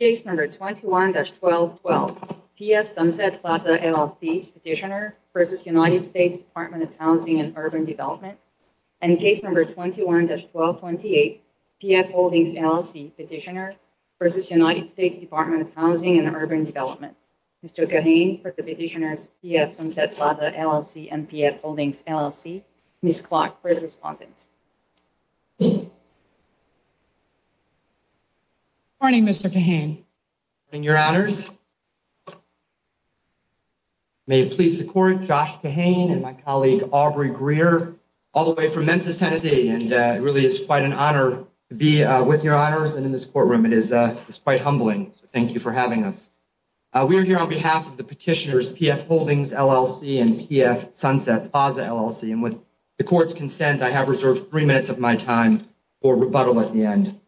Case number 21-1212, PF Sunset Plaza LLC Petitioner v. United States Department of Housing and Urban Development, and case number 21-1228, PF Holdings LLC Petitioner v. United States Department of Housing and Urban Development. Mr. Kahane for the Petitioners, PF Sunset Plaza LLC and PF Holdings LLC. Ms. Klock for the respondents. Good morning, Mr. Kahane. Good morning, Your Honors. May it please the Court, Josh Kahane and my colleague, Aubrey Greer, all the way from Memphis, Tennessee. And it really is quite an honor to be with Your Honors and in this courtroom. It is quite humbling. Thank you for having us. We are here on behalf of the Petitioners, PF Holdings LLC and PF Sunset Plaza LLC. And with the Court's consent, I have reserved three minutes of my time for rebuttal at the end.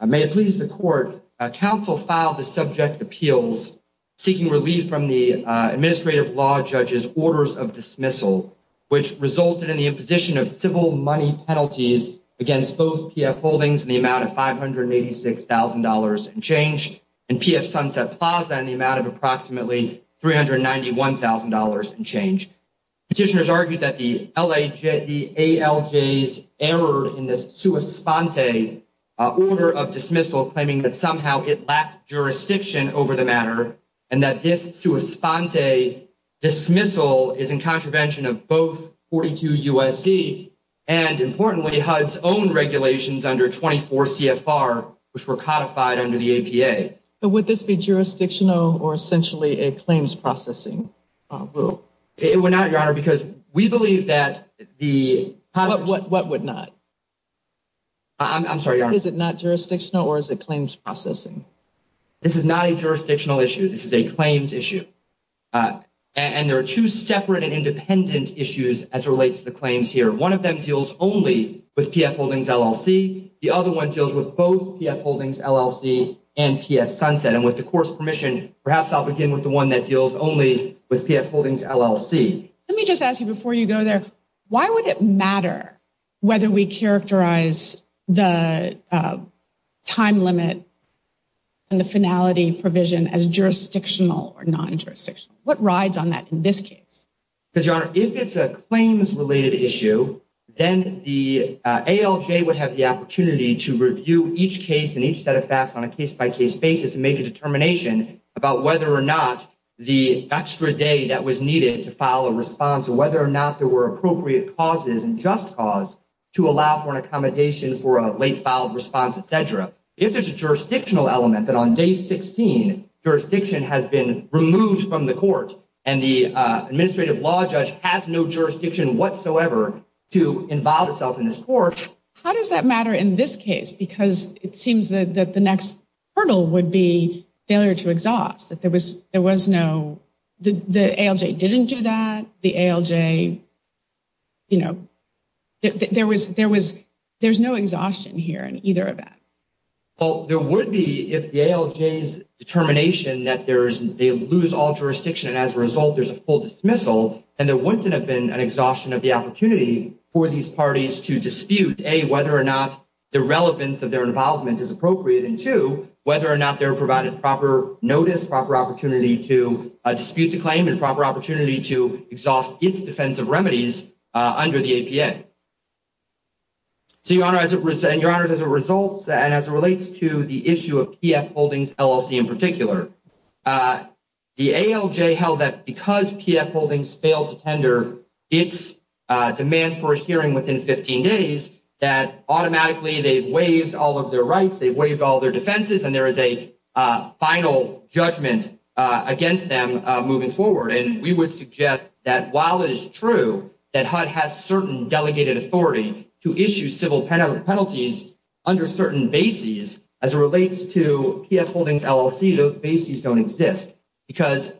May it please the Court, counsel filed the subject appeals seeking relief from the administrative law judge's orders of dismissal, which resulted in the imposition of civil money penalties against both PF Holdings in the amount of $586,000 and change, and PF Sunset Plaza in the amount of approximately $391,000 and change. Petitioners argue that the ALJ's error in this sua sponte order of dismissal claiming that somehow it lacked jurisdiction over the matter and that this sua sponte dismissal is in contravention of both 42 U.S.C. and importantly, HUD's own regulations under 24 CFR, which were codified under the APA. But would this be jurisdictional or essentially a claims processing? It would not, Your Honor, because we believe that the... What would not? I'm sorry, Your Honor. Is it not jurisdictional or is it claims processing? This is not a jurisdictional issue. This is a claims issue. And there are two separate and independent issues as it relates to the claims here. One of them deals only with PF Holdings LLC. The other one deals with both PF Holdings LLC and PF Sunset. And with the Court's permission, perhaps I'll begin with the one that deals only with PF Holdings LLC. Let me just ask you before you go there. Why would it matter whether we characterize the time limit and the finality provision as jurisdictional or non-jurisdictional? What rides on that in this case? Because, Your Honor, if it's a claims-related issue, then the ALJ would have the opportunity to review each case and each set of facts on a case-by-case basis and make a determination about whether or not the extra day that was needed to file a response or whether or not there were appropriate causes and just cause to allow for an accommodation for a late-filed response, etc. If there's a jurisdictional element that on day 16, jurisdiction has been removed from the Court and the administrative law judge has no jurisdiction whatsoever to involve itself in this Court, how does that matter in this case? Because it seems that the next hurdle would be failure to exhaust. There was no – the ALJ didn't do that. The ALJ – you know, there was – there's no exhaustion here in either of them. Well, there would be if the ALJ's determination that there's – they lose all jurisdiction and, as a result, there's a full dismissal, then there wouldn't have been an exhaustion of the opportunity for these parties to dispute, A, whether or not the relevance of their involvement is appropriate, and, 2, whether or not they're provided proper notice, proper opportunity to dispute the claim and proper opportunity to exhaust its defensive remedies under the APA. So, Your Honor, as a result, and as it relates to the issue of PF Holdings LLC in particular, the ALJ held that because PF Holdings failed to tender its demand for a hearing within 15 days, that automatically they've waived all of their rights, they've waived all of their defenses, and there is a final judgment against them moving forward. And we would suggest that while it is true that HUD has certain delegated authority to issue civil penalties under certain bases, as it relates to PF Holdings LLC, those bases don't exist because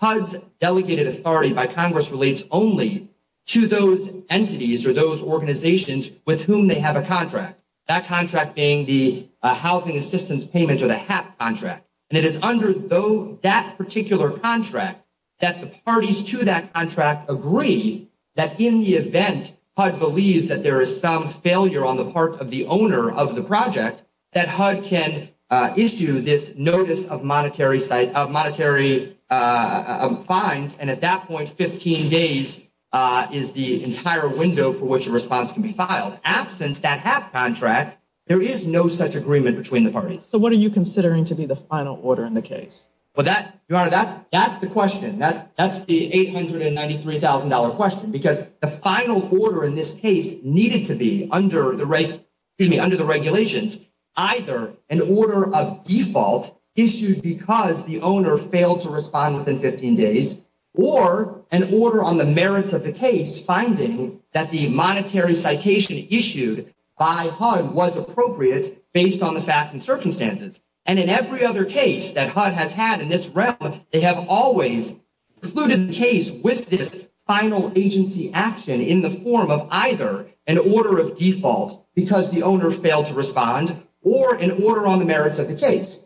HUD's delegated authority by Congress relates only to those entities or those organizations with whom they have a contract, that contract being the housing assistance payment or the HAP contract. And it is under that particular contract that the parties to that contract agree that in the event HUD believes that there is some failure on the part of the owner of the project, that HUD can issue this notice of monetary fines, and at that point 15 days is the entire window for which a response can be filed. Absent that HAP contract, there is no such agreement between the parties. So what are you considering to be the final order in the case? Your Honor, that's the question. That's the $893,000 question because the final order in this case needed to be under the regulations either an order of default issued because the owner failed to respond within 15 days or an order on the merits of the case finding that the monetary citation issued by HUD was appropriate based on the facts and circumstances. And in every other case that HUD has had in this realm, they have always included the case with this final agency action in the form of either an order of default because the owner failed to respond or an order on the merits of the case.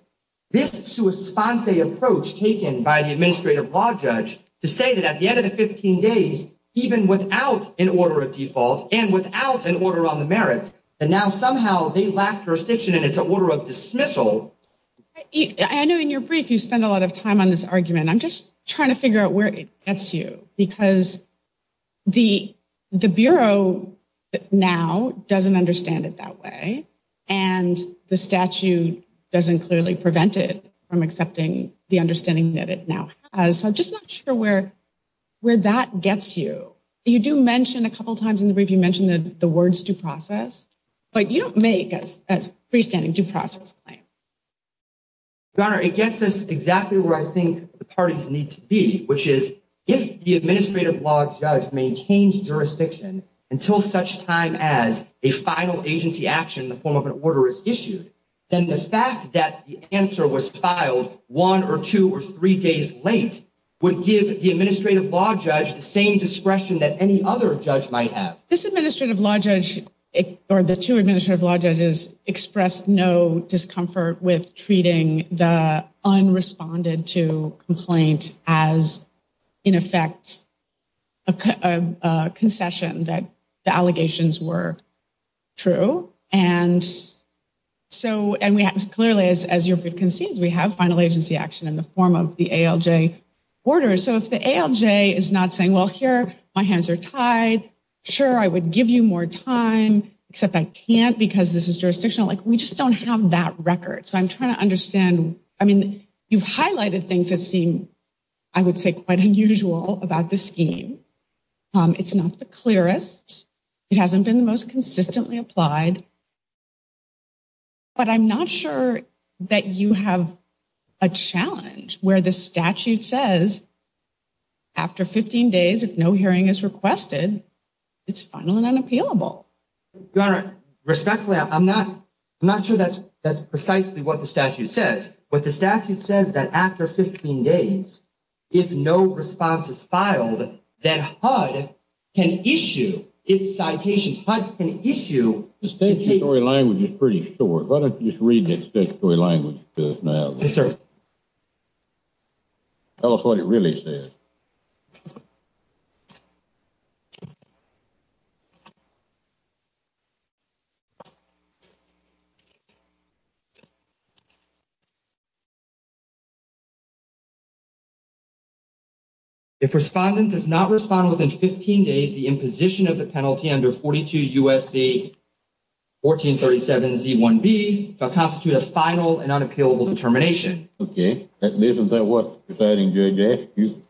This sua sponte approach taken by the administrative law judge to say that at the end of the 15 days, and now somehow they lack jurisdiction and it's an order of dismissal. I know in your brief you spend a lot of time on this argument. I'm just trying to figure out where it gets you because the Bureau now doesn't understand it that way and the statute doesn't clearly prevent it from accepting the understanding that it now has. So I'm just not sure where that gets you. You do mention a couple times in the brief, you mentioned the words due process, but you don't make a freestanding due process claim. Your Honor, it gets us exactly where I think the parties need to be, which is if the administrative law judge maintains jurisdiction until such time as a final agency action in the form of an order is issued, then the fact that the answer was filed one or two or three days late would give the administrative law judge the same discretion that any other judge might have. This administrative law judge, or the two administrative law judges, expressed no discomfort with treating the unresponded to complaint as, in effect, a concession that the allegations were true. Clearly, as your brief concedes, we have final agency action in the form of the ALJ order. So if the ALJ is not saying, well, here, my hands are tied, sure, I would give you more time, except I can't because this is jurisdictional, we just don't have that record. So I'm trying to understand. You've highlighted things that seem, I would say, quite unusual about this scheme. It's not the clearest. It hasn't been the most consistently applied. But I'm not sure that you have a challenge where the statute says after 15 days, if no hearing is requested, it's final and unappealable. Your Honor, respectfully, I'm not sure that's precisely what the statute says. But the statute says that after 15 days, if no response is filed, that HUD can issue its citations. HUD can issue. The statutory language is pretty short. Why don't you just read the statutory language to us now. Yes, sir. Tell us what it really says. If respondent does not respond within 15 days, the imposition of the penalty under 42 U.S.C. 1437 Z1B shall constitute a final and unappealable determination. Okay. Isn't that what the presiding judge asked you?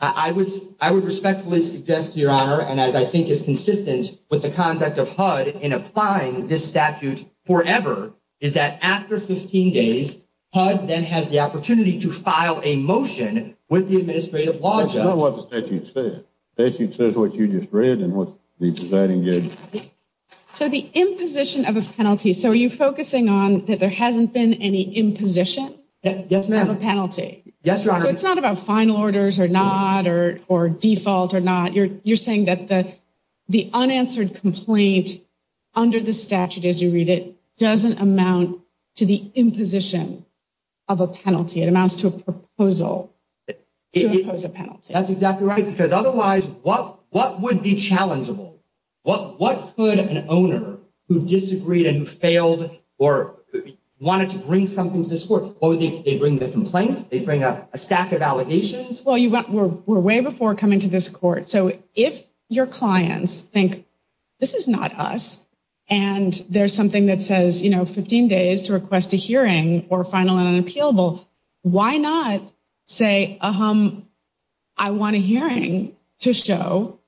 I would respectfully suggest, Your Honor, and as I think is consistent with the conduct of HUD in applying this statute forever, is that after 15 days, HUD then has the opportunity to file a motion with the administrative law judge. That's not what the statute says. The statute says what you just read and what the presiding judge said. So the imposition of a penalty, so are you focusing on that there hasn't been any imposition of a penalty? Yes, ma'am. Yes, Your Honor. So it's not about final orders or not or default or not. You're saying that the unanswered complaint under the statute as you read it doesn't amount to the imposition of a penalty. It amounts to a proposal to impose a penalty. That's exactly right because otherwise what would be challengeable? What could an owner who disagreed and failed or wanted to bring something to this court, what would they bring, the complaint? They bring a stack of allegations? Well, we're way before coming to this court. So if your clients think this is not us and there's something that says 15 days to request a hearing or final and unappealable, why not say I want a hearing to show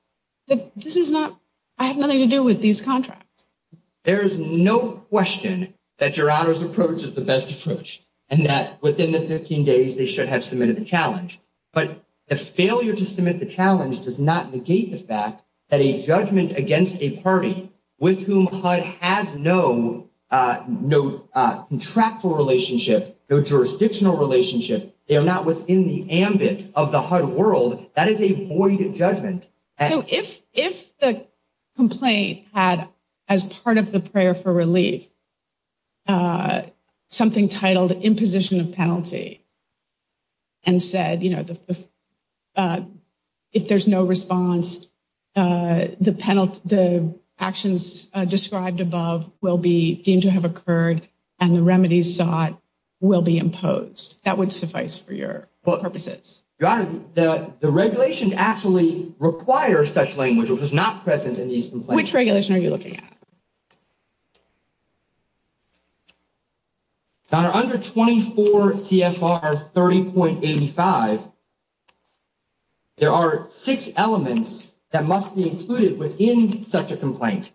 that this is not, I have nothing to do with these contracts? There is no question that Your Honor's approach is the best approach and that within the 15 days they should have submitted the challenge. But the failure to submit the challenge does not negate the fact that a judgment against a party with whom HUD has no contractual relationship, no jurisdictional relationship, they are not within the ambit of the HUD world, that is a void judgment. So if the complaint had as part of the prayer for relief something titled imposition of penalty and said, you know, if there's no response, the actions described above will be deemed to have occurred and the remedies sought will be imposed. That would suffice for your purposes. Your Honor, the regulations actually require such language, which is not present in these complaints. Which regulation are you looking at? Your Honor, under 24 CFR 30.85, there are six elements that must be included within such a complaint,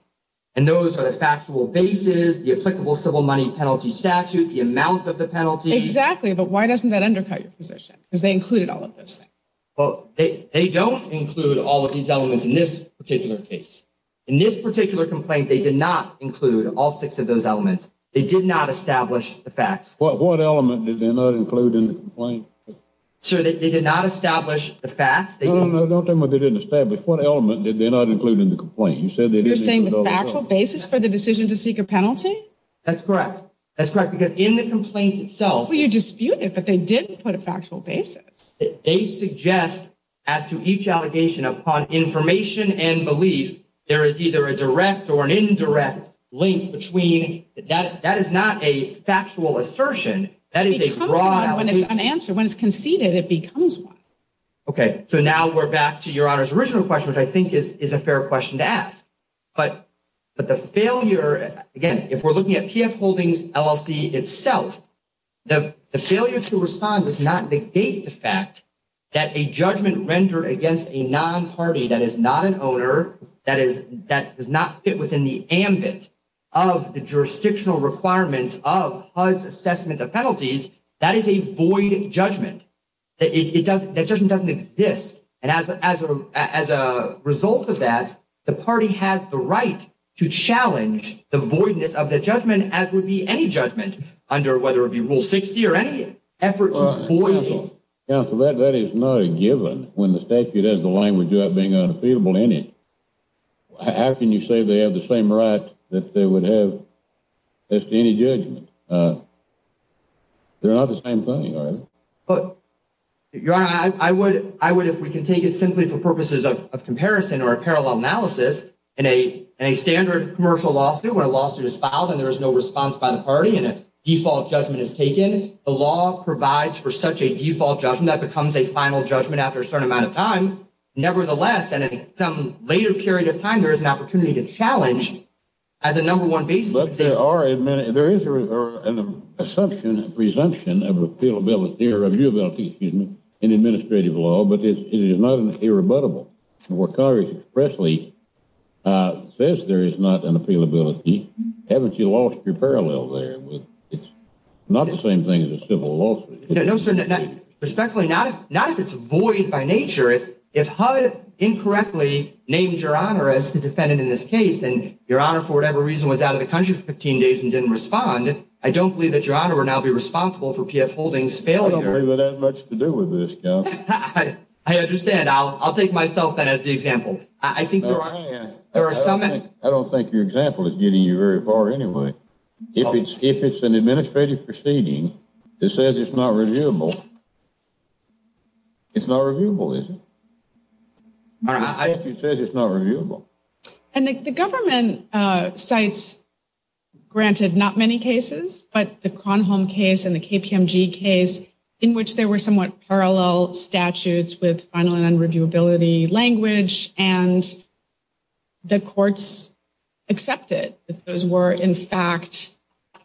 and those are the factual basis, the applicable civil money penalty statute, the amount of the penalty. Exactly, but why doesn't that undercut your position? Because they included all of those things. Well, they don't include all of these elements in this particular case. In this particular complaint, they did not include all six of those elements. They did not establish the facts. What element did they not include in the complaint? Sir, they did not establish the facts. No, no, no, don't tell me they didn't establish. What element did they not include in the complaint? You're saying the factual basis for the decision to seek a penalty? That's correct. That's correct, because in the complaint itself. Well, you disputed, but they did put a factual basis. They suggest as to each allegation upon information and belief, there is either a direct or an indirect link between. That is not a factual assertion. It becomes one when it's unanswered. When it's conceded, it becomes one. Okay, so now we're back to Your Honor's original question, which I think is a fair question to ask. But the failure, again, if we're looking at PF Holdings LLC itself, the failure to respond does not negate the fact that a judgment rendered against a non-party that is not an owner, that does not fit within the ambit of the jurisdictional requirements of HUD's assessment of penalties, that is a void judgment. That judgment doesn't exist. And as a result of that, the party has the right to challenge the voidness of the judgment, even as would be any judgment, under whether it be Rule 60 or any effort to void it. Counsel, that is not a given when the statute has the language about being unappealable in it. How can you say they have the same right that they would have as to any judgment? They're not the same thing, are they? Your Honor, I would, if we can take it simply for purposes of comparison or a parallel analysis, in a standard commercial lawsuit, when a lawsuit is filed and there is no response by the party and a default judgment is taken, the law provides for such a default judgment that becomes a final judgment after a certain amount of time. Nevertheless, in some later period of time, there is an opportunity to challenge as a number one basis. But there is an assumption, a presumption of appealability or viewability in administrative law, but it is not irrebuttable. Congress expressly says there is not an appealability. Haven't you lost your parallel there? It's not the same thing as a civil lawsuit. No, sir. Respectfully, not if it's void by nature. If HUD incorrectly named Your Honor as the defendant in this case and Your Honor, for whatever reason, was out of the country for 15 days and didn't respond, I don't believe that Your Honor will now be responsible for PF Holdings' failure. I don't believe it has much to do with this, Counsel. I understand. I'll take myself then as the example. I don't think your example is getting you very far anyway. If it's an administrative proceeding that says it's not reviewable, it's not reviewable, is it? If it says it's not reviewable. And the government cites, granted, not many cases, but the Kronholm case and the KPMG case in which there were somewhat parallel statutes with final and unreviewability language and the courts accepted that those were in fact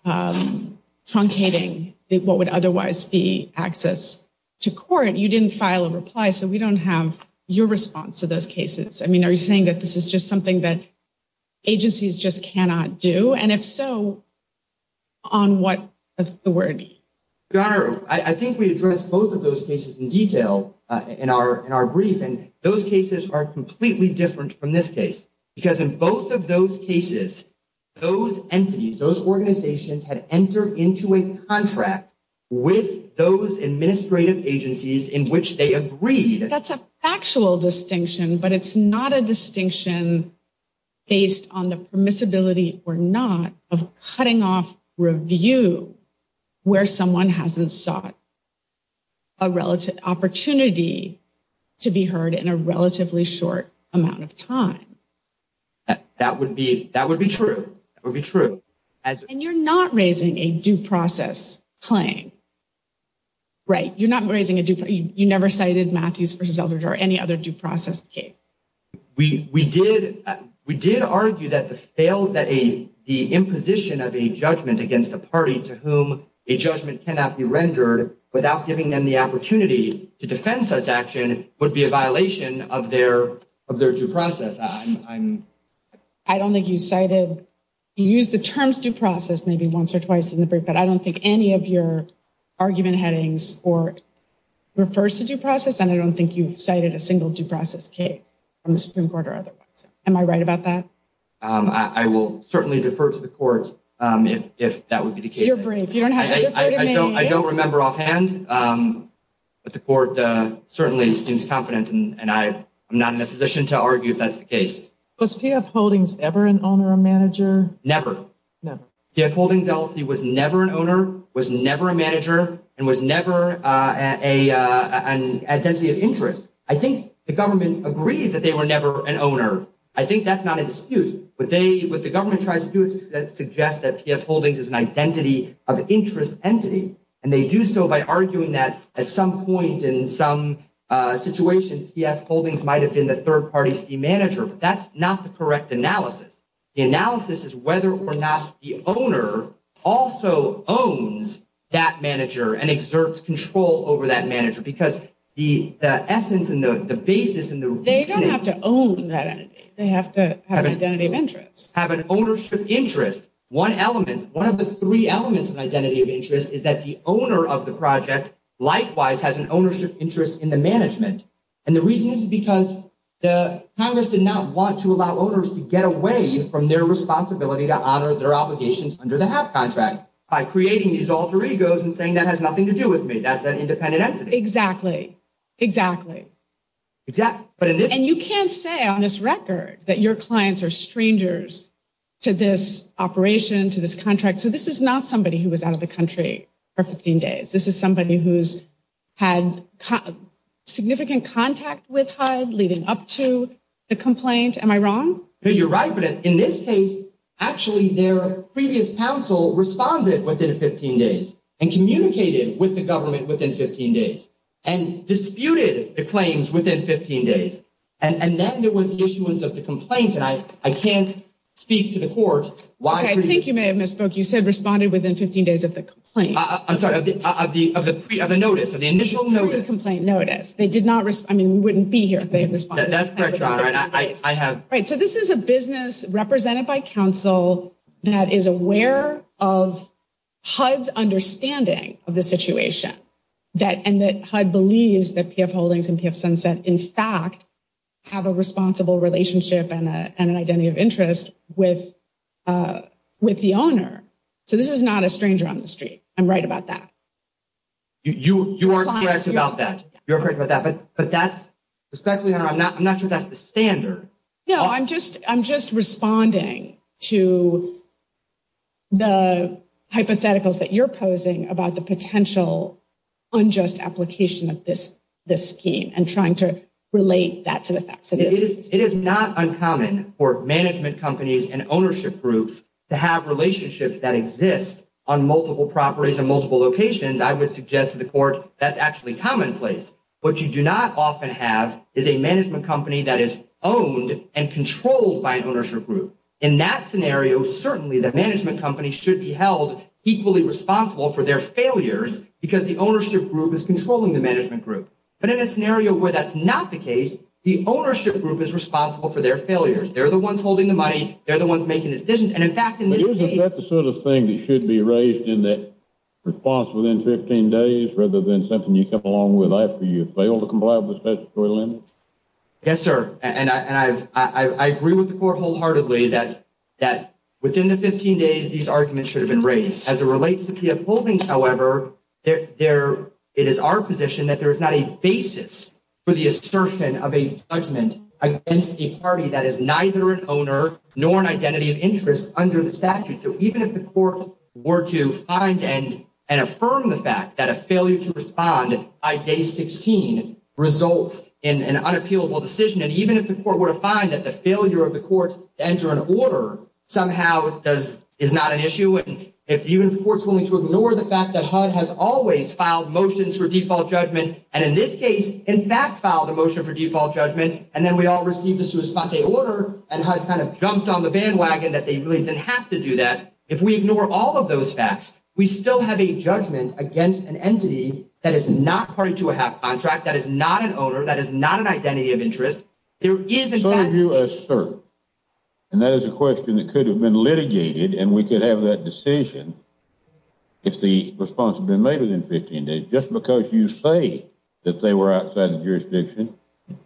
truncating what would otherwise be access to court, you didn't file a reply so we don't have your response to those cases. I mean, are you saying that this is just something that agencies just cannot do? And if so, on what authority? Your Honor, I think we addressed both of those cases in detail in our brief, and those cases are completely different from this case because in both of those cases, those entities, those organizations had entered into a contract with those administrative agencies in which they agreed. That's a factual distinction, but it's not a distinction based on the permissibility or not of cutting off review where someone hasn't sought a relative opportunity to be heard in a relatively short amount of time. That would be true. And you're not raising a due process claim, right? You're not raising a due process. You never cited Matthews v. Eldridge or any other due process case. We did argue that the imposition of a judgment against a party to whom a judgment cannot be rendered without giving them the opportunity to defend such action would be a violation of their due process. I don't think you cited, you used the terms due process maybe once or twice in the brief, but I don't think any of your argument headings refers to due process, and I don't think you cited a single due process case from the Supreme Court or otherwise. Am I right about that? I will certainly defer to the court if that would be the case. To your brief. You don't have to defer to me. I don't remember offhand, but the court certainly seems confident, and I'm not in a position to argue if that's the case. Was PF Holdings ever an owner or manager? Never. Never. PF Holdings LLC was never an owner, was never a manager, and was never an identity of interest. I think the government agrees that they were never an owner. I think that's not a dispute. What the government tries to do is suggest that PF Holdings is an identity of interest entity, and they do so by arguing that at some point in some situation, PF Holdings might have been the third-party fee manager, but that's not the correct analysis. The analysis is whether or not the owner also owns that manager and exerts control over that manager, because the essence and the basis and the reasoning. They don't have to own that entity. They have to have an identity of interest. Have an ownership interest. One element, one of the three elements of identity of interest, is that the owner of the project, likewise, has an ownership interest in the management, and the reason is because Congress did not want to allow owners to get away from their responsibility to honor their obligations under the HUD contract by creating these alter egos and saying that has nothing to do with me. That's an independent entity. Exactly, exactly. And you can't say on this record that your clients are strangers to this operation, to this contract. So this is not somebody who was out of the country for 15 days. This is somebody who's had significant contact with HUD leading up to the complaint. Am I wrong? No, you're right, but in this case, actually their previous counsel responded within 15 days and communicated with the government within 15 days and disputed the claims within 15 days, and then there was the issuance of the complaint, and I can't speak to the court. Okay, I think you may have misspoke. You said responded within 15 days of the complaint. I'm sorry, of the notice, of the initial notice. Of the complaint notice. They did not respond. I mean, we wouldn't be here if they had responded. That's correct, John. Right, so this is a business represented by counsel that is aware of HUD's understanding of the situation and that HUD believes that PF Holdings and PF Sunset, in fact, have a responsible relationship and an identity of interest with the owner. So this is not a stranger on the street. I'm right about that. You are correct about that. You're correct about that. I'm not sure that's the standard. No, I'm just responding to the hypotheticals that you're posing about the potential unjust application of this scheme and trying to relate that to the facts. It is not uncommon for management companies and ownership groups to have relationships that exist on multiple properties in multiple locations. I would suggest to the court that's actually commonplace, but what you do not often have is a management company that is owned and controlled by an ownership group. In that scenario, certainly, the management company should be held equally responsible for their failures because the ownership group is controlling the management group. But in a scenario where that's not the case, the ownership group is responsible for their failures. They're the ones holding the money. They're the ones making the decisions. Isn't that the sort of thing that should be raised in that response within 15 days rather than something you come along with after you fail to comply with the statutory limits? Yes, sir, and I agree with the court wholeheartedly that within the 15 days, these arguments should have been raised. As it relates to PF Holdings, however, it is our position that there is not a basis for the assertion of a judgment against a party that is neither an owner nor an identity of interest under the statute. So even if the court were to find and affirm the fact that a failure to respond by day 16 results in an unappealable decision, and even if the court were to find that the failure of the court to enter an order somehow is not an issue, and even if the court's willing to ignore the fact that HUD has always filed motions for default judgment, and in this case, in fact, filed a motion for default judgment, and then we all received a sua sponte order, and HUD kind of jumped on the bandwagon that they really didn't have to do that, if we ignore all of those facts, we still have a judgment against an entity that is not party to a HAP contract, that is not an owner, that is not an identity of interest. There is a judgment. So you assert, and that is a question that could have been litigated, and we could have that decision if the response had been made within 15 days. Just because you say that they were outside the jurisdiction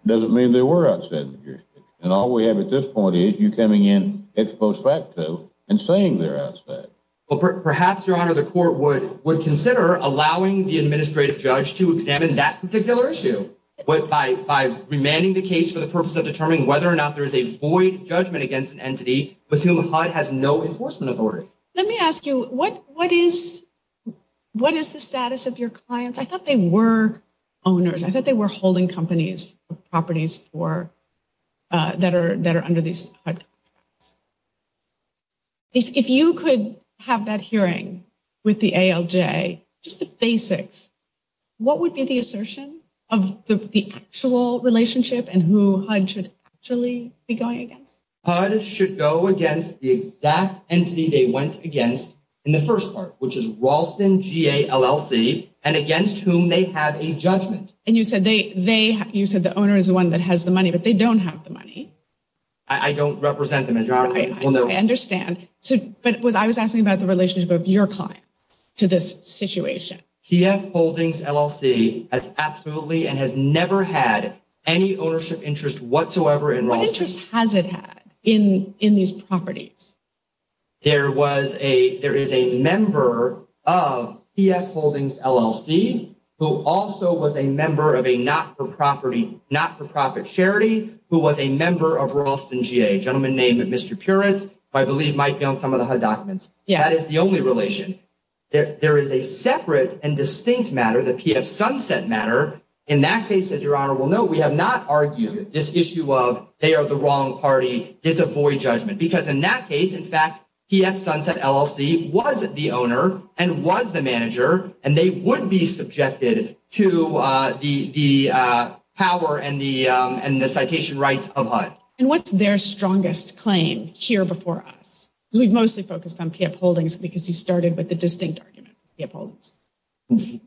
doesn't mean they were outside the jurisdiction, and all we have at this point is you coming in ex post facto and saying they're outside. Well, perhaps, Your Honor, the court would consider allowing the administrative judge to examine that particular issue by remanding the case for the purpose of determining whether or not there is a void judgment against an entity with whom HUD has no enforcement authority. Let me ask you, what is the status of your clients? I thought they were owners. I thought they were holding companies, properties that are under these HUD contracts. If you could have that hearing with the ALJ, just the basics, what would be the assertion of the actual relationship and who HUD should actually be going against? HUD should go against the exact entity they went against in the first part, which is Ralston, G-A-L-L-C, and against whom they have a judgment. And you said the owner is the one that has the money, but they don't have the money. I don't represent them, Your Honor. I understand. But I was asking about the relationship of your client to this situation. PF Holdings LLC has absolutely and has never had any ownership interest whatsoever in Ralston. What interest has it had in these properties? There is a member of PF Holdings LLC who also was a member of a not-for-profit charity who was a member of Ralston G-A, a gentleman named Mr. Puritz, who I believe might be on some of the HUD documents. That is the only relation. There is a separate and distinct matter, the PF Sunset matter. In that case, as Your Honor will know, we have not argued this issue of they are the wrong party. It's a void judgment, because in that case, in fact, PF Sunset LLC was the owner and was the manager, and they would be subjected to the power and the citation rights of HUD. And what's their strongest claim here before us? Because we've mostly focused on PF Holdings because you started with the distinct argument, PF Holdings.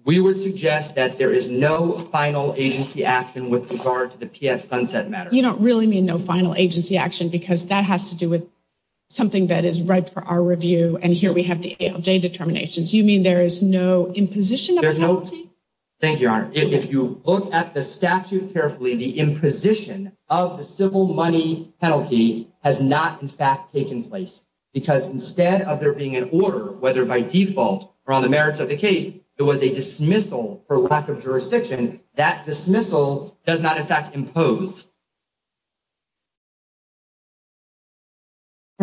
We would suggest that there is no final agency action with regard to the PF Sunset matter. You don't really mean no final agency action, because that has to do with something that is ripe for our review, and here we have the ALJ determinations. You mean there is no imposition of a penalty? Thank you, Your Honor. If you look at the statute carefully, the imposition of the civil money penalty has not, in fact, taken place, because instead of there being an order, whether by default or on the merits of the case, there was a dismissal for lack of jurisdiction. All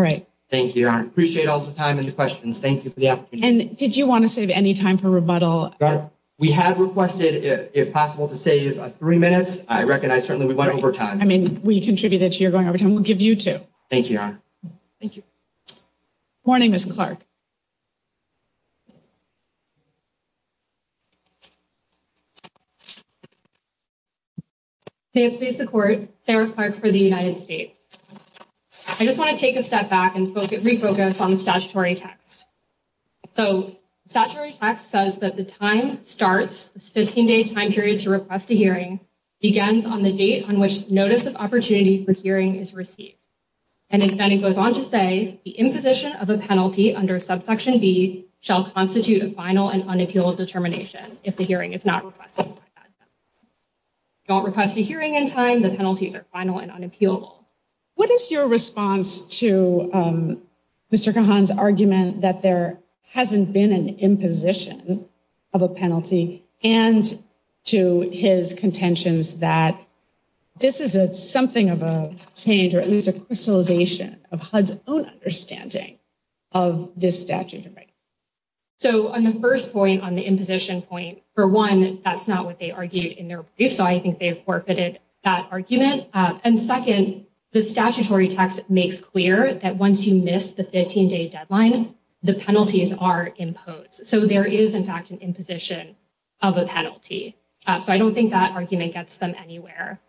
right. Thank you, Your Honor. I appreciate all the time and the questions. Thank you for the opportunity. And did you want to save any time for rebuttal? Your Honor, we had requested, if possible, to save us three minutes. I recognize, certainly, we went over time. I mean, we contributed to your going over time. We'll give you two. Thank you, Your Honor. Thank you. Morning, Ms. Clark. May it please the Court, Sarah Clark for the United States. I just want to take a step back and refocus on the statutory text. So statutory text says that the time starts, this 15-day time period to request a hearing, begins on the date on which notice of opportunity for hearing is received. And then it goes on to say, the imposition of a penalty under subsection B shall constitute a final and unappealable determination if the hearing is not requested. Don't request a hearing in time. The penalties are final and unappealable. What is your response to Mr. Kahan's argument that there hasn't been an imposition of a penalty and to his contentions that this is something of a change or at least a crystallization of HUD's own understanding of this statute of rights? So on the first point, on the imposition point, for one, that's not what they argued in their brief. So I think they've forfeited that argument. And second, the statutory text makes clear that once you miss the 15-day deadline, the penalties are imposed. So there is, in fact, an imposition of a penalty. So I don't think that argument gets them anywhere.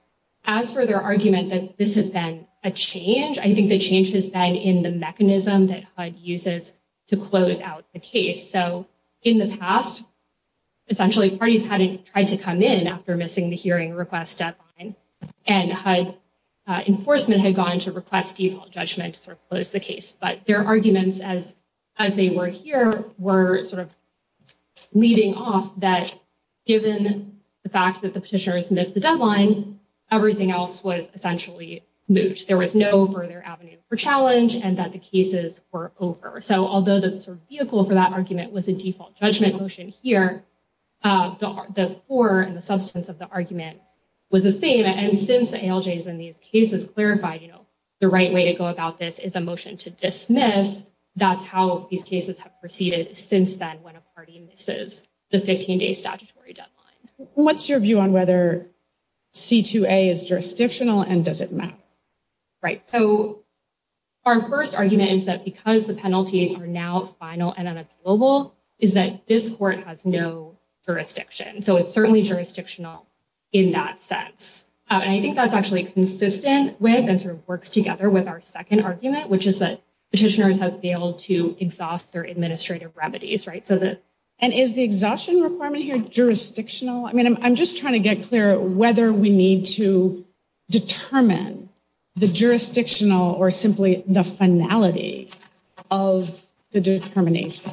As for their argument that this has been a change, I think the change has been in the mechanism that HUD uses to close out the case. So in the past, essentially, parties had tried to come in after missing the hearing request deadline, and HUD enforcement had gone to request default judgment to sort of close the case. But their arguments, as they were here, were sort of leading off that, given the fact that the petitioners missed the deadline, everything else was essentially moved. There was no further avenue for challenge and that the cases were over. So although the sort of vehicle for that argument was a default judgment motion here, the core and the substance of the argument was the same. And since the ALJs in these cases clarified, you know, the right way to go about this is a motion to dismiss, that's how these cases have proceeded since then when a party misses the 15-day statutory deadline. What's your view on whether C2A is jurisdictional and does it matter? Right. So our first argument is that because the penalties are now final and unavailable, is that this court has no jurisdiction. So it's certainly jurisdictional in that sense. And I think that's actually consistent with and sort of works together with our second argument, which is that petitioners have failed to exhaust their administrative remedies, right? And is the exhaustion requirement here jurisdictional? I mean, I'm just trying to get clear whether we need to determine the jurisdictional or simply the finality of the determination.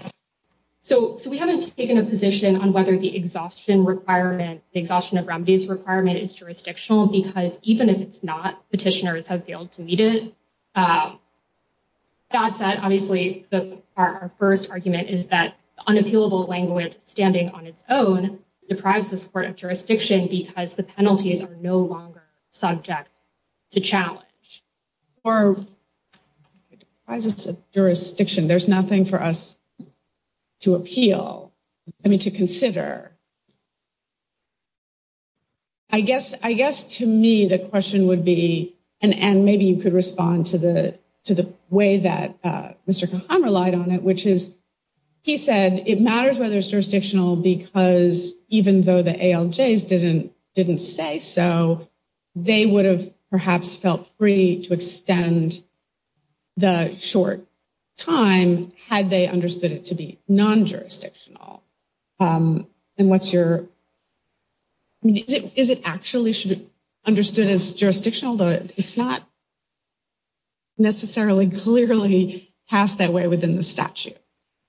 So we haven't taken a position on whether the exhaustion requirement, the exhaustion of remedies requirement is jurisdictional because even if it's not, petitioners have failed to meet it. That said, obviously our first argument is that unappealable language standing on its own deprives the support of jurisdiction because the penalties are no longer subject to challenge. Or it deprives us of jurisdiction. There's nothing for us to appeal, I mean, to consider. I guess to me, the question would be, and maybe you could respond to the way that Mr. Cahan relied on it, which is he said it matters whether it's jurisdictional because even though the ALJs didn't say so, they would have perhaps felt free to extend the short time had they understood it to be non-jurisdictional. And what's your... I mean, is it actually understood as jurisdictional? It's not necessarily clearly passed that way within the statute.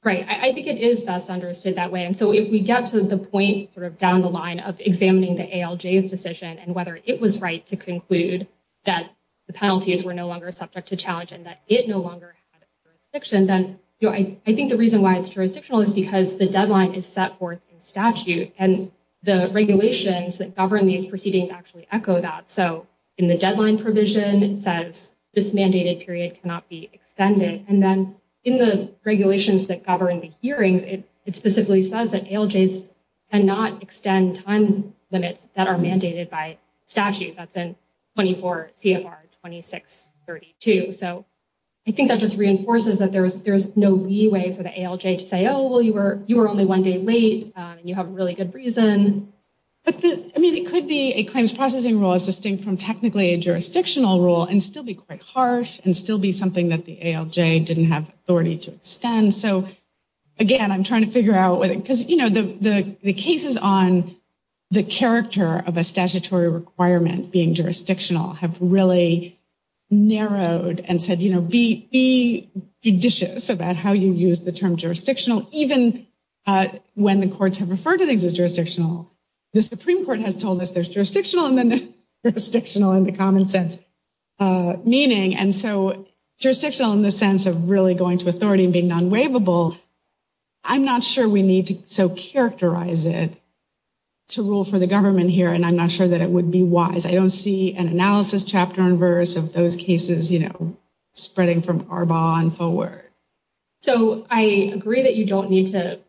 Right, I think it is best understood that way. And so if we get to the point sort of down the line of examining the ALJ's decision and whether it was right to conclude that the penalties were no longer subject to challenge and that it no longer had jurisdiction, then I think the reason why it's jurisdictional is because the deadline is set forth in statute and the regulations that govern these proceedings actually echo that. So in the deadline provision, it says this mandated period cannot be extended. And then in the regulations that govern the hearings, it specifically says that ALJs cannot extend time limits that are mandated by statute. That's in 24 CFR 2632. So I think that just reinforces that there's no leeway for the ALJ to say, oh, well, you were only one day late and you have a really good reason. But, I mean, it could be a claims processing rule is distinct from technically a jurisdictional rule and still be quite harsh and still be something that the ALJ didn't have authority to extend. So, again, I'm trying to figure out whether... Because, you know, the cases on the character of a statutory requirement being jurisdictional have really narrowed and said, you know, be judicious about how you use the term jurisdictional. Even when the courts have referred to things as jurisdictional, the Supreme Court has told us there's jurisdictional and then there's jurisdictional in the common sense meaning. And so jurisdictional in the sense of really going to authority and being non-waivable, I'm not sure we need to so characterize it to rule for the government here. And I'm not sure that it would be wise. I don't see an analysis chapter and verse of those cases, you know, spreading from Arbonne forward. So, I agree that you don't need to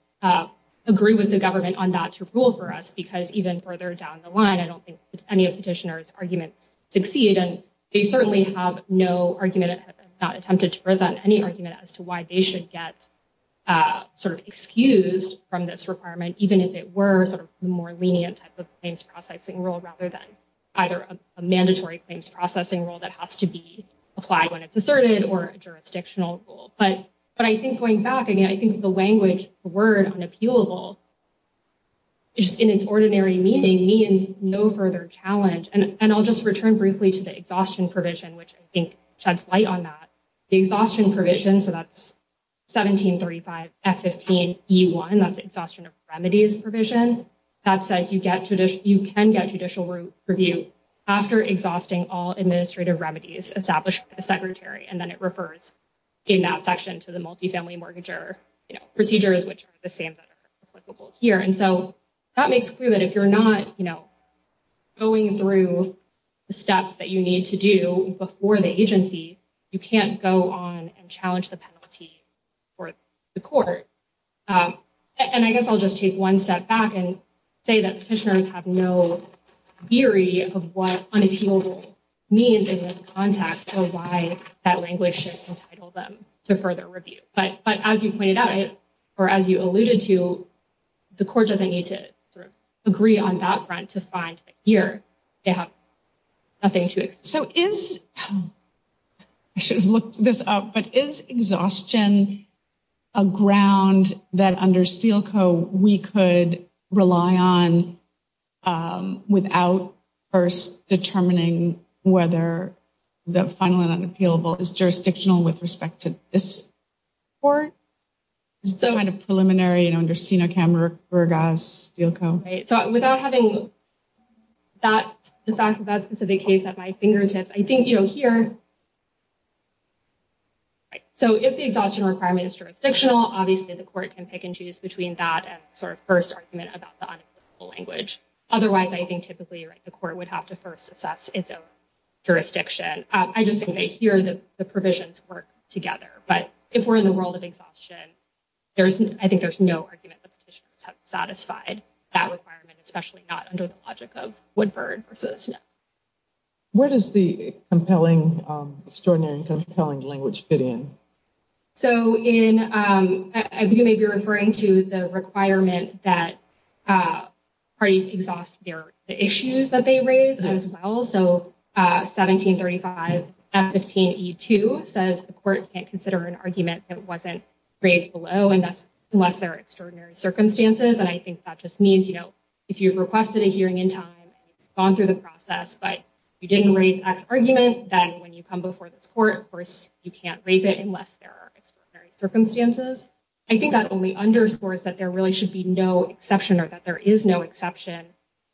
agree with the government on that to rule for us because even further down the line, I don't think any of Petitioner's arguments succeed and they certainly have no argument and have not attempted to present any argument as to why they should get sort of excused from this requirement even if it were sort of the more lenient type of claims processing rule rather than either a mandatory claims processing rule that has to be applied when it's asserted or a jurisdictional rule. But I think going back, again, I think the language, the word unappealable in its ordinary meaning means no further challenge. And I'll just return briefly to the exhaustion provision, which I think sheds light on that. The exhaustion provision, so that's 1735 F15E1, that's exhaustion of remedies provision. And then that says you can get judicial review after exhausting all administrative remedies established by the secretary. And then it refers in that section to the multifamily mortgager procedures, which are the same that are applicable here. And so, that makes clear that if you're not, you know, going through the steps that you need to do before the agency, you can't go on and challenge the penalty for the court. And I guess I'll just take one step back and say that petitioners have no theory of what unappealable means in this context or why that language should entitle them to further review. But as you pointed out, or as you alluded to, the court doesn't need to sort of agree on that front to find that here they have nothing to... So, is, I should have looked this up, but is exhaustion a ground that under Steele Co. we could rely on without first determining whether the final and unappealable is jurisdictional with respect to this court? It's kind of preliminary, you know, under SINOCAM, RUGAS, Steele Co. Right, so without having that specific case at my fingertips, I think, you know, here... Right, so if the exhaustion requirement is jurisdictional, obviously the court can pick and choose between that and sort of first argument about the unappealable language. Otherwise, I think typically, right, the court would have to first assess its own jurisdiction. I just think that here the provisions work together. But if we're in the world of exhaustion, I think there's no argument that petitioners have satisfied that requirement, especially not under the logic of Woodford v. Snow. Where does the compelling, extraordinary and compelling language fit in? So, you may be referring to the requirement that parties exhaust the issues that they raise as well. So, 1735 F15E2 says the court can't consider an argument that wasn't raised below, unless there are extraordinary circumstances. And I think that just means, you know, if you opted a hearing in time and you've gone through the process, but you didn't raise X argument, then when you come before this court, of course, you can't raise it unless there are extraordinary circumstances. I think that only underscores that there really should be no exception or that there is no exception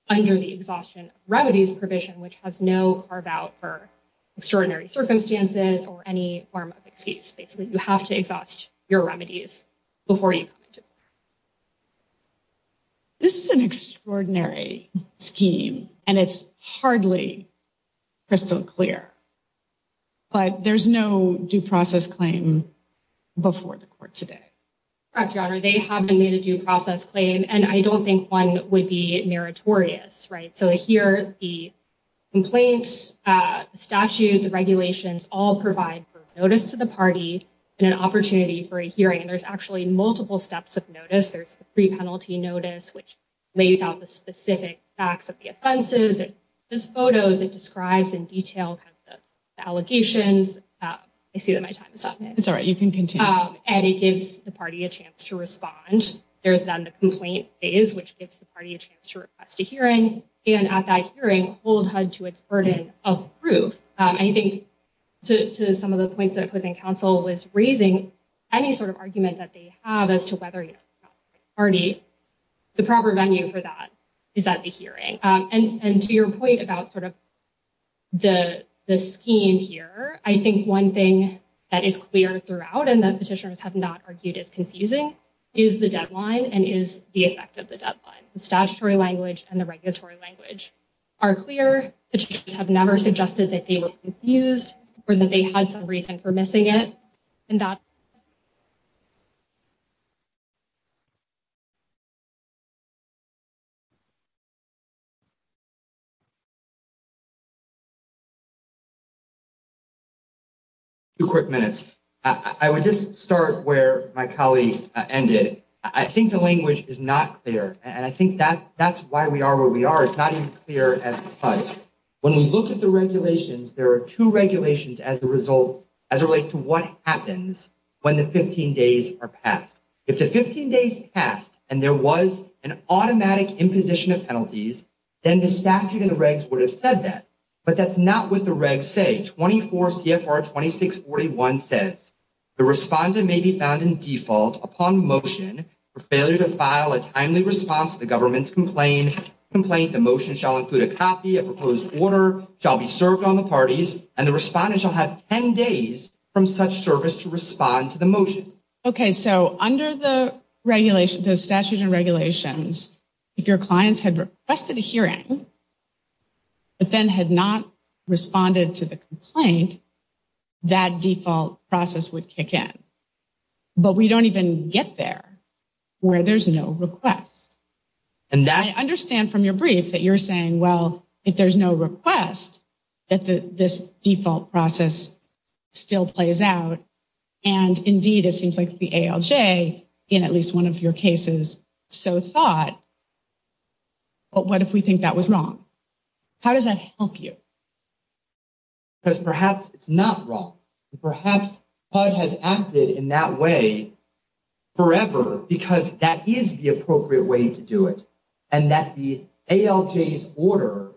under the exhaustion of remedies provision, which has no carve-out for extraordinary circumstances or any form of excuse. Basically, you have to exhaust your remedies before you come into court. This is an extraordinary scheme, and it's hardly crystal clear, but there's no due process claim before the court today. Correct, Your Honor. They haven't made a due process claim, and I don't think one would be meritorious, right? So, here, the complaint statute, the regulations, all provide for notice to the party and an opportunity for a hearing. There's actually multiple steps of notice. There's the pre-penalty notice, which lays out the specific facts of the offenses. This photo, it describes in detail the allegations. I see that my time is up. It's all right. You can continue. And it gives the party a chance to respond. There's then the complaint phase, which gives the party a chance to request a hearing, and at that hearing, hold HUD to its burden of proof. I think, to some of the points that opposing counsel was raising, any sort of argument that they have as to whether or not the party, the proper venue for that is at the hearing. And to your point about sort of the scheme here, I think one thing that is clear throughout, and that petitioners have not argued is confusing, is the deadline and is the effect of the deadline. The statutory language and the regulatory language are clear. Petitioners have never suggested that they were confused or that they had some reason for missing it, and that is not true. Two quick minutes. I would just start where my colleague ended. I think the language is not clear, and I think that's why we are where we are. It's not even clear as HUD. When we look at the regulations, there are two regulations as a result, as it relates to what happens when the 15 days are passed. If the 15 days passed, and there was an automatic imposition of penalties, then the statute of the regs would have said that, but that's not what the regs say. 24 CFR 2641 says, the respondent may be found in default upon motion for failure to file a timely response to the government's complaint. The motion shall include a copy, a proposed order, shall be served on the parties, and the respondent shall have 10 days from such service to respond to the motion. Okay. So under the regulation, the statute and regulations, if your clients had requested a hearing, but then had not responded to the complaint, that default process would kick in. But we don't even get there where there's no request. And I understand from your brief that you're saying, well, if there's no request, that this default process still plays out. And indeed, it seems like the ALJ, in at least one of your cases, so thought, but what if we think that was wrong? How does that help you? Because perhaps it's not wrong. Perhaps HUD has acted in that way forever, because that is the appropriate way to do it. And that the ALJ's order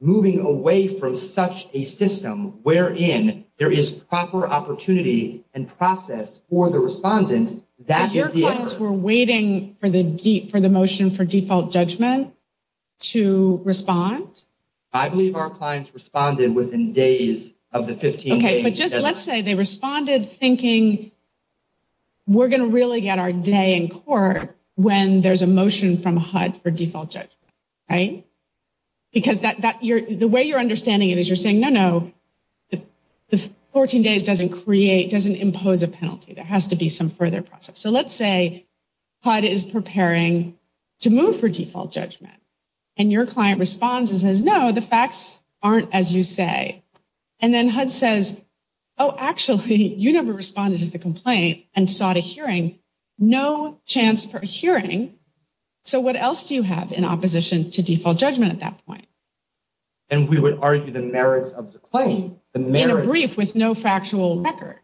moving away from such a system, wherein there is proper opportunity and process for the respondent, that is the error. So your clients were waiting for the motion for default judgment to respond? I believe our clients responded within days of the 15 days. Okay. But just let's say they responded thinking we're going to really get our day in court when there's a motion from HUD for default judgment, right? Because the way you're understanding it is you're saying, no, no, the 14 days doesn't create, doesn't impose a penalty. There has to be some further process. So let's say HUD is preparing to move for default judgment, and your client responds and says, no, the facts aren't as you say. And then HUD says, oh, actually, you never responded to the complaint and sought a hearing. No chance for a hearing. So what else do you have in opposition to default judgment at that point? And we would argue the merits of the claim. In a brief with no factual record.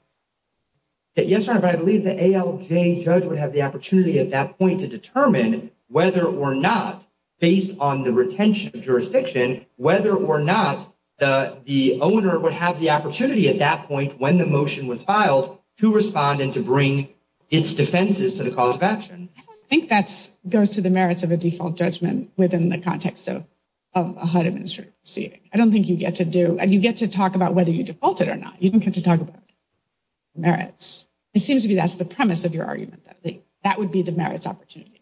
Yes, Your Honor, but I believe the ALJ judge would have the opportunity at that point to determine whether or not, based on the retention of jurisdiction, whether or not the owner would have the opportunity at that point when the motion was filed to respond and to bring its defenses to the cause of action. I don't think that goes to the merits of a default judgment within the context of a HUD administrative proceeding. I don't think you get to do, you get to talk about whether you defaulted or not. You don't get to talk about merits. It seems to me that's the premise of your argument. That would be the merits opportunity.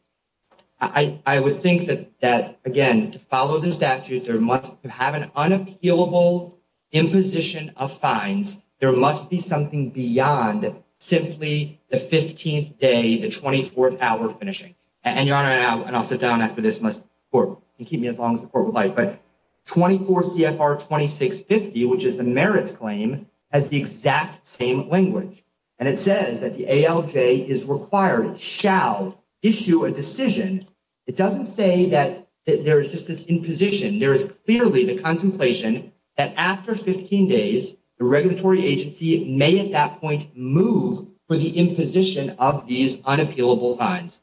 I would think that, again, to follow the statute, there must have an unappealable imposition of fines. There must be something beyond simply the 15th day, the 24th hour finishing. And Your Honor, and I'll sit down after this and keep me as long as the court would like, but 24 CFR 2650, which is the merits claim has the exact same language. And it says that the ALJ is required, shall issue a decision. It doesn't say that there's just this imposition. There is clearly the contemplation that after 15 days, the regulatory agency may at that point move for the imposition of these unappealable fines.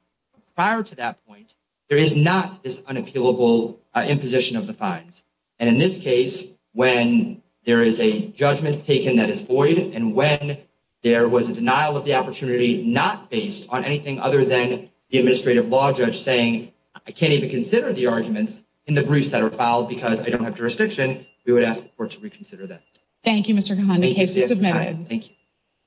Prior to that point, there is not this unappealable imposition of the fines. And in this case, when there is a judgment taken that is void and when there was a denial of the opportunity, not based on anything other than the administrative law judge saying, I can't even consider the arguments in the briefs that are filed because I don't have jurisdiction. Again, we would ask the court to reconsider that. Thank you, Mr. Kahan.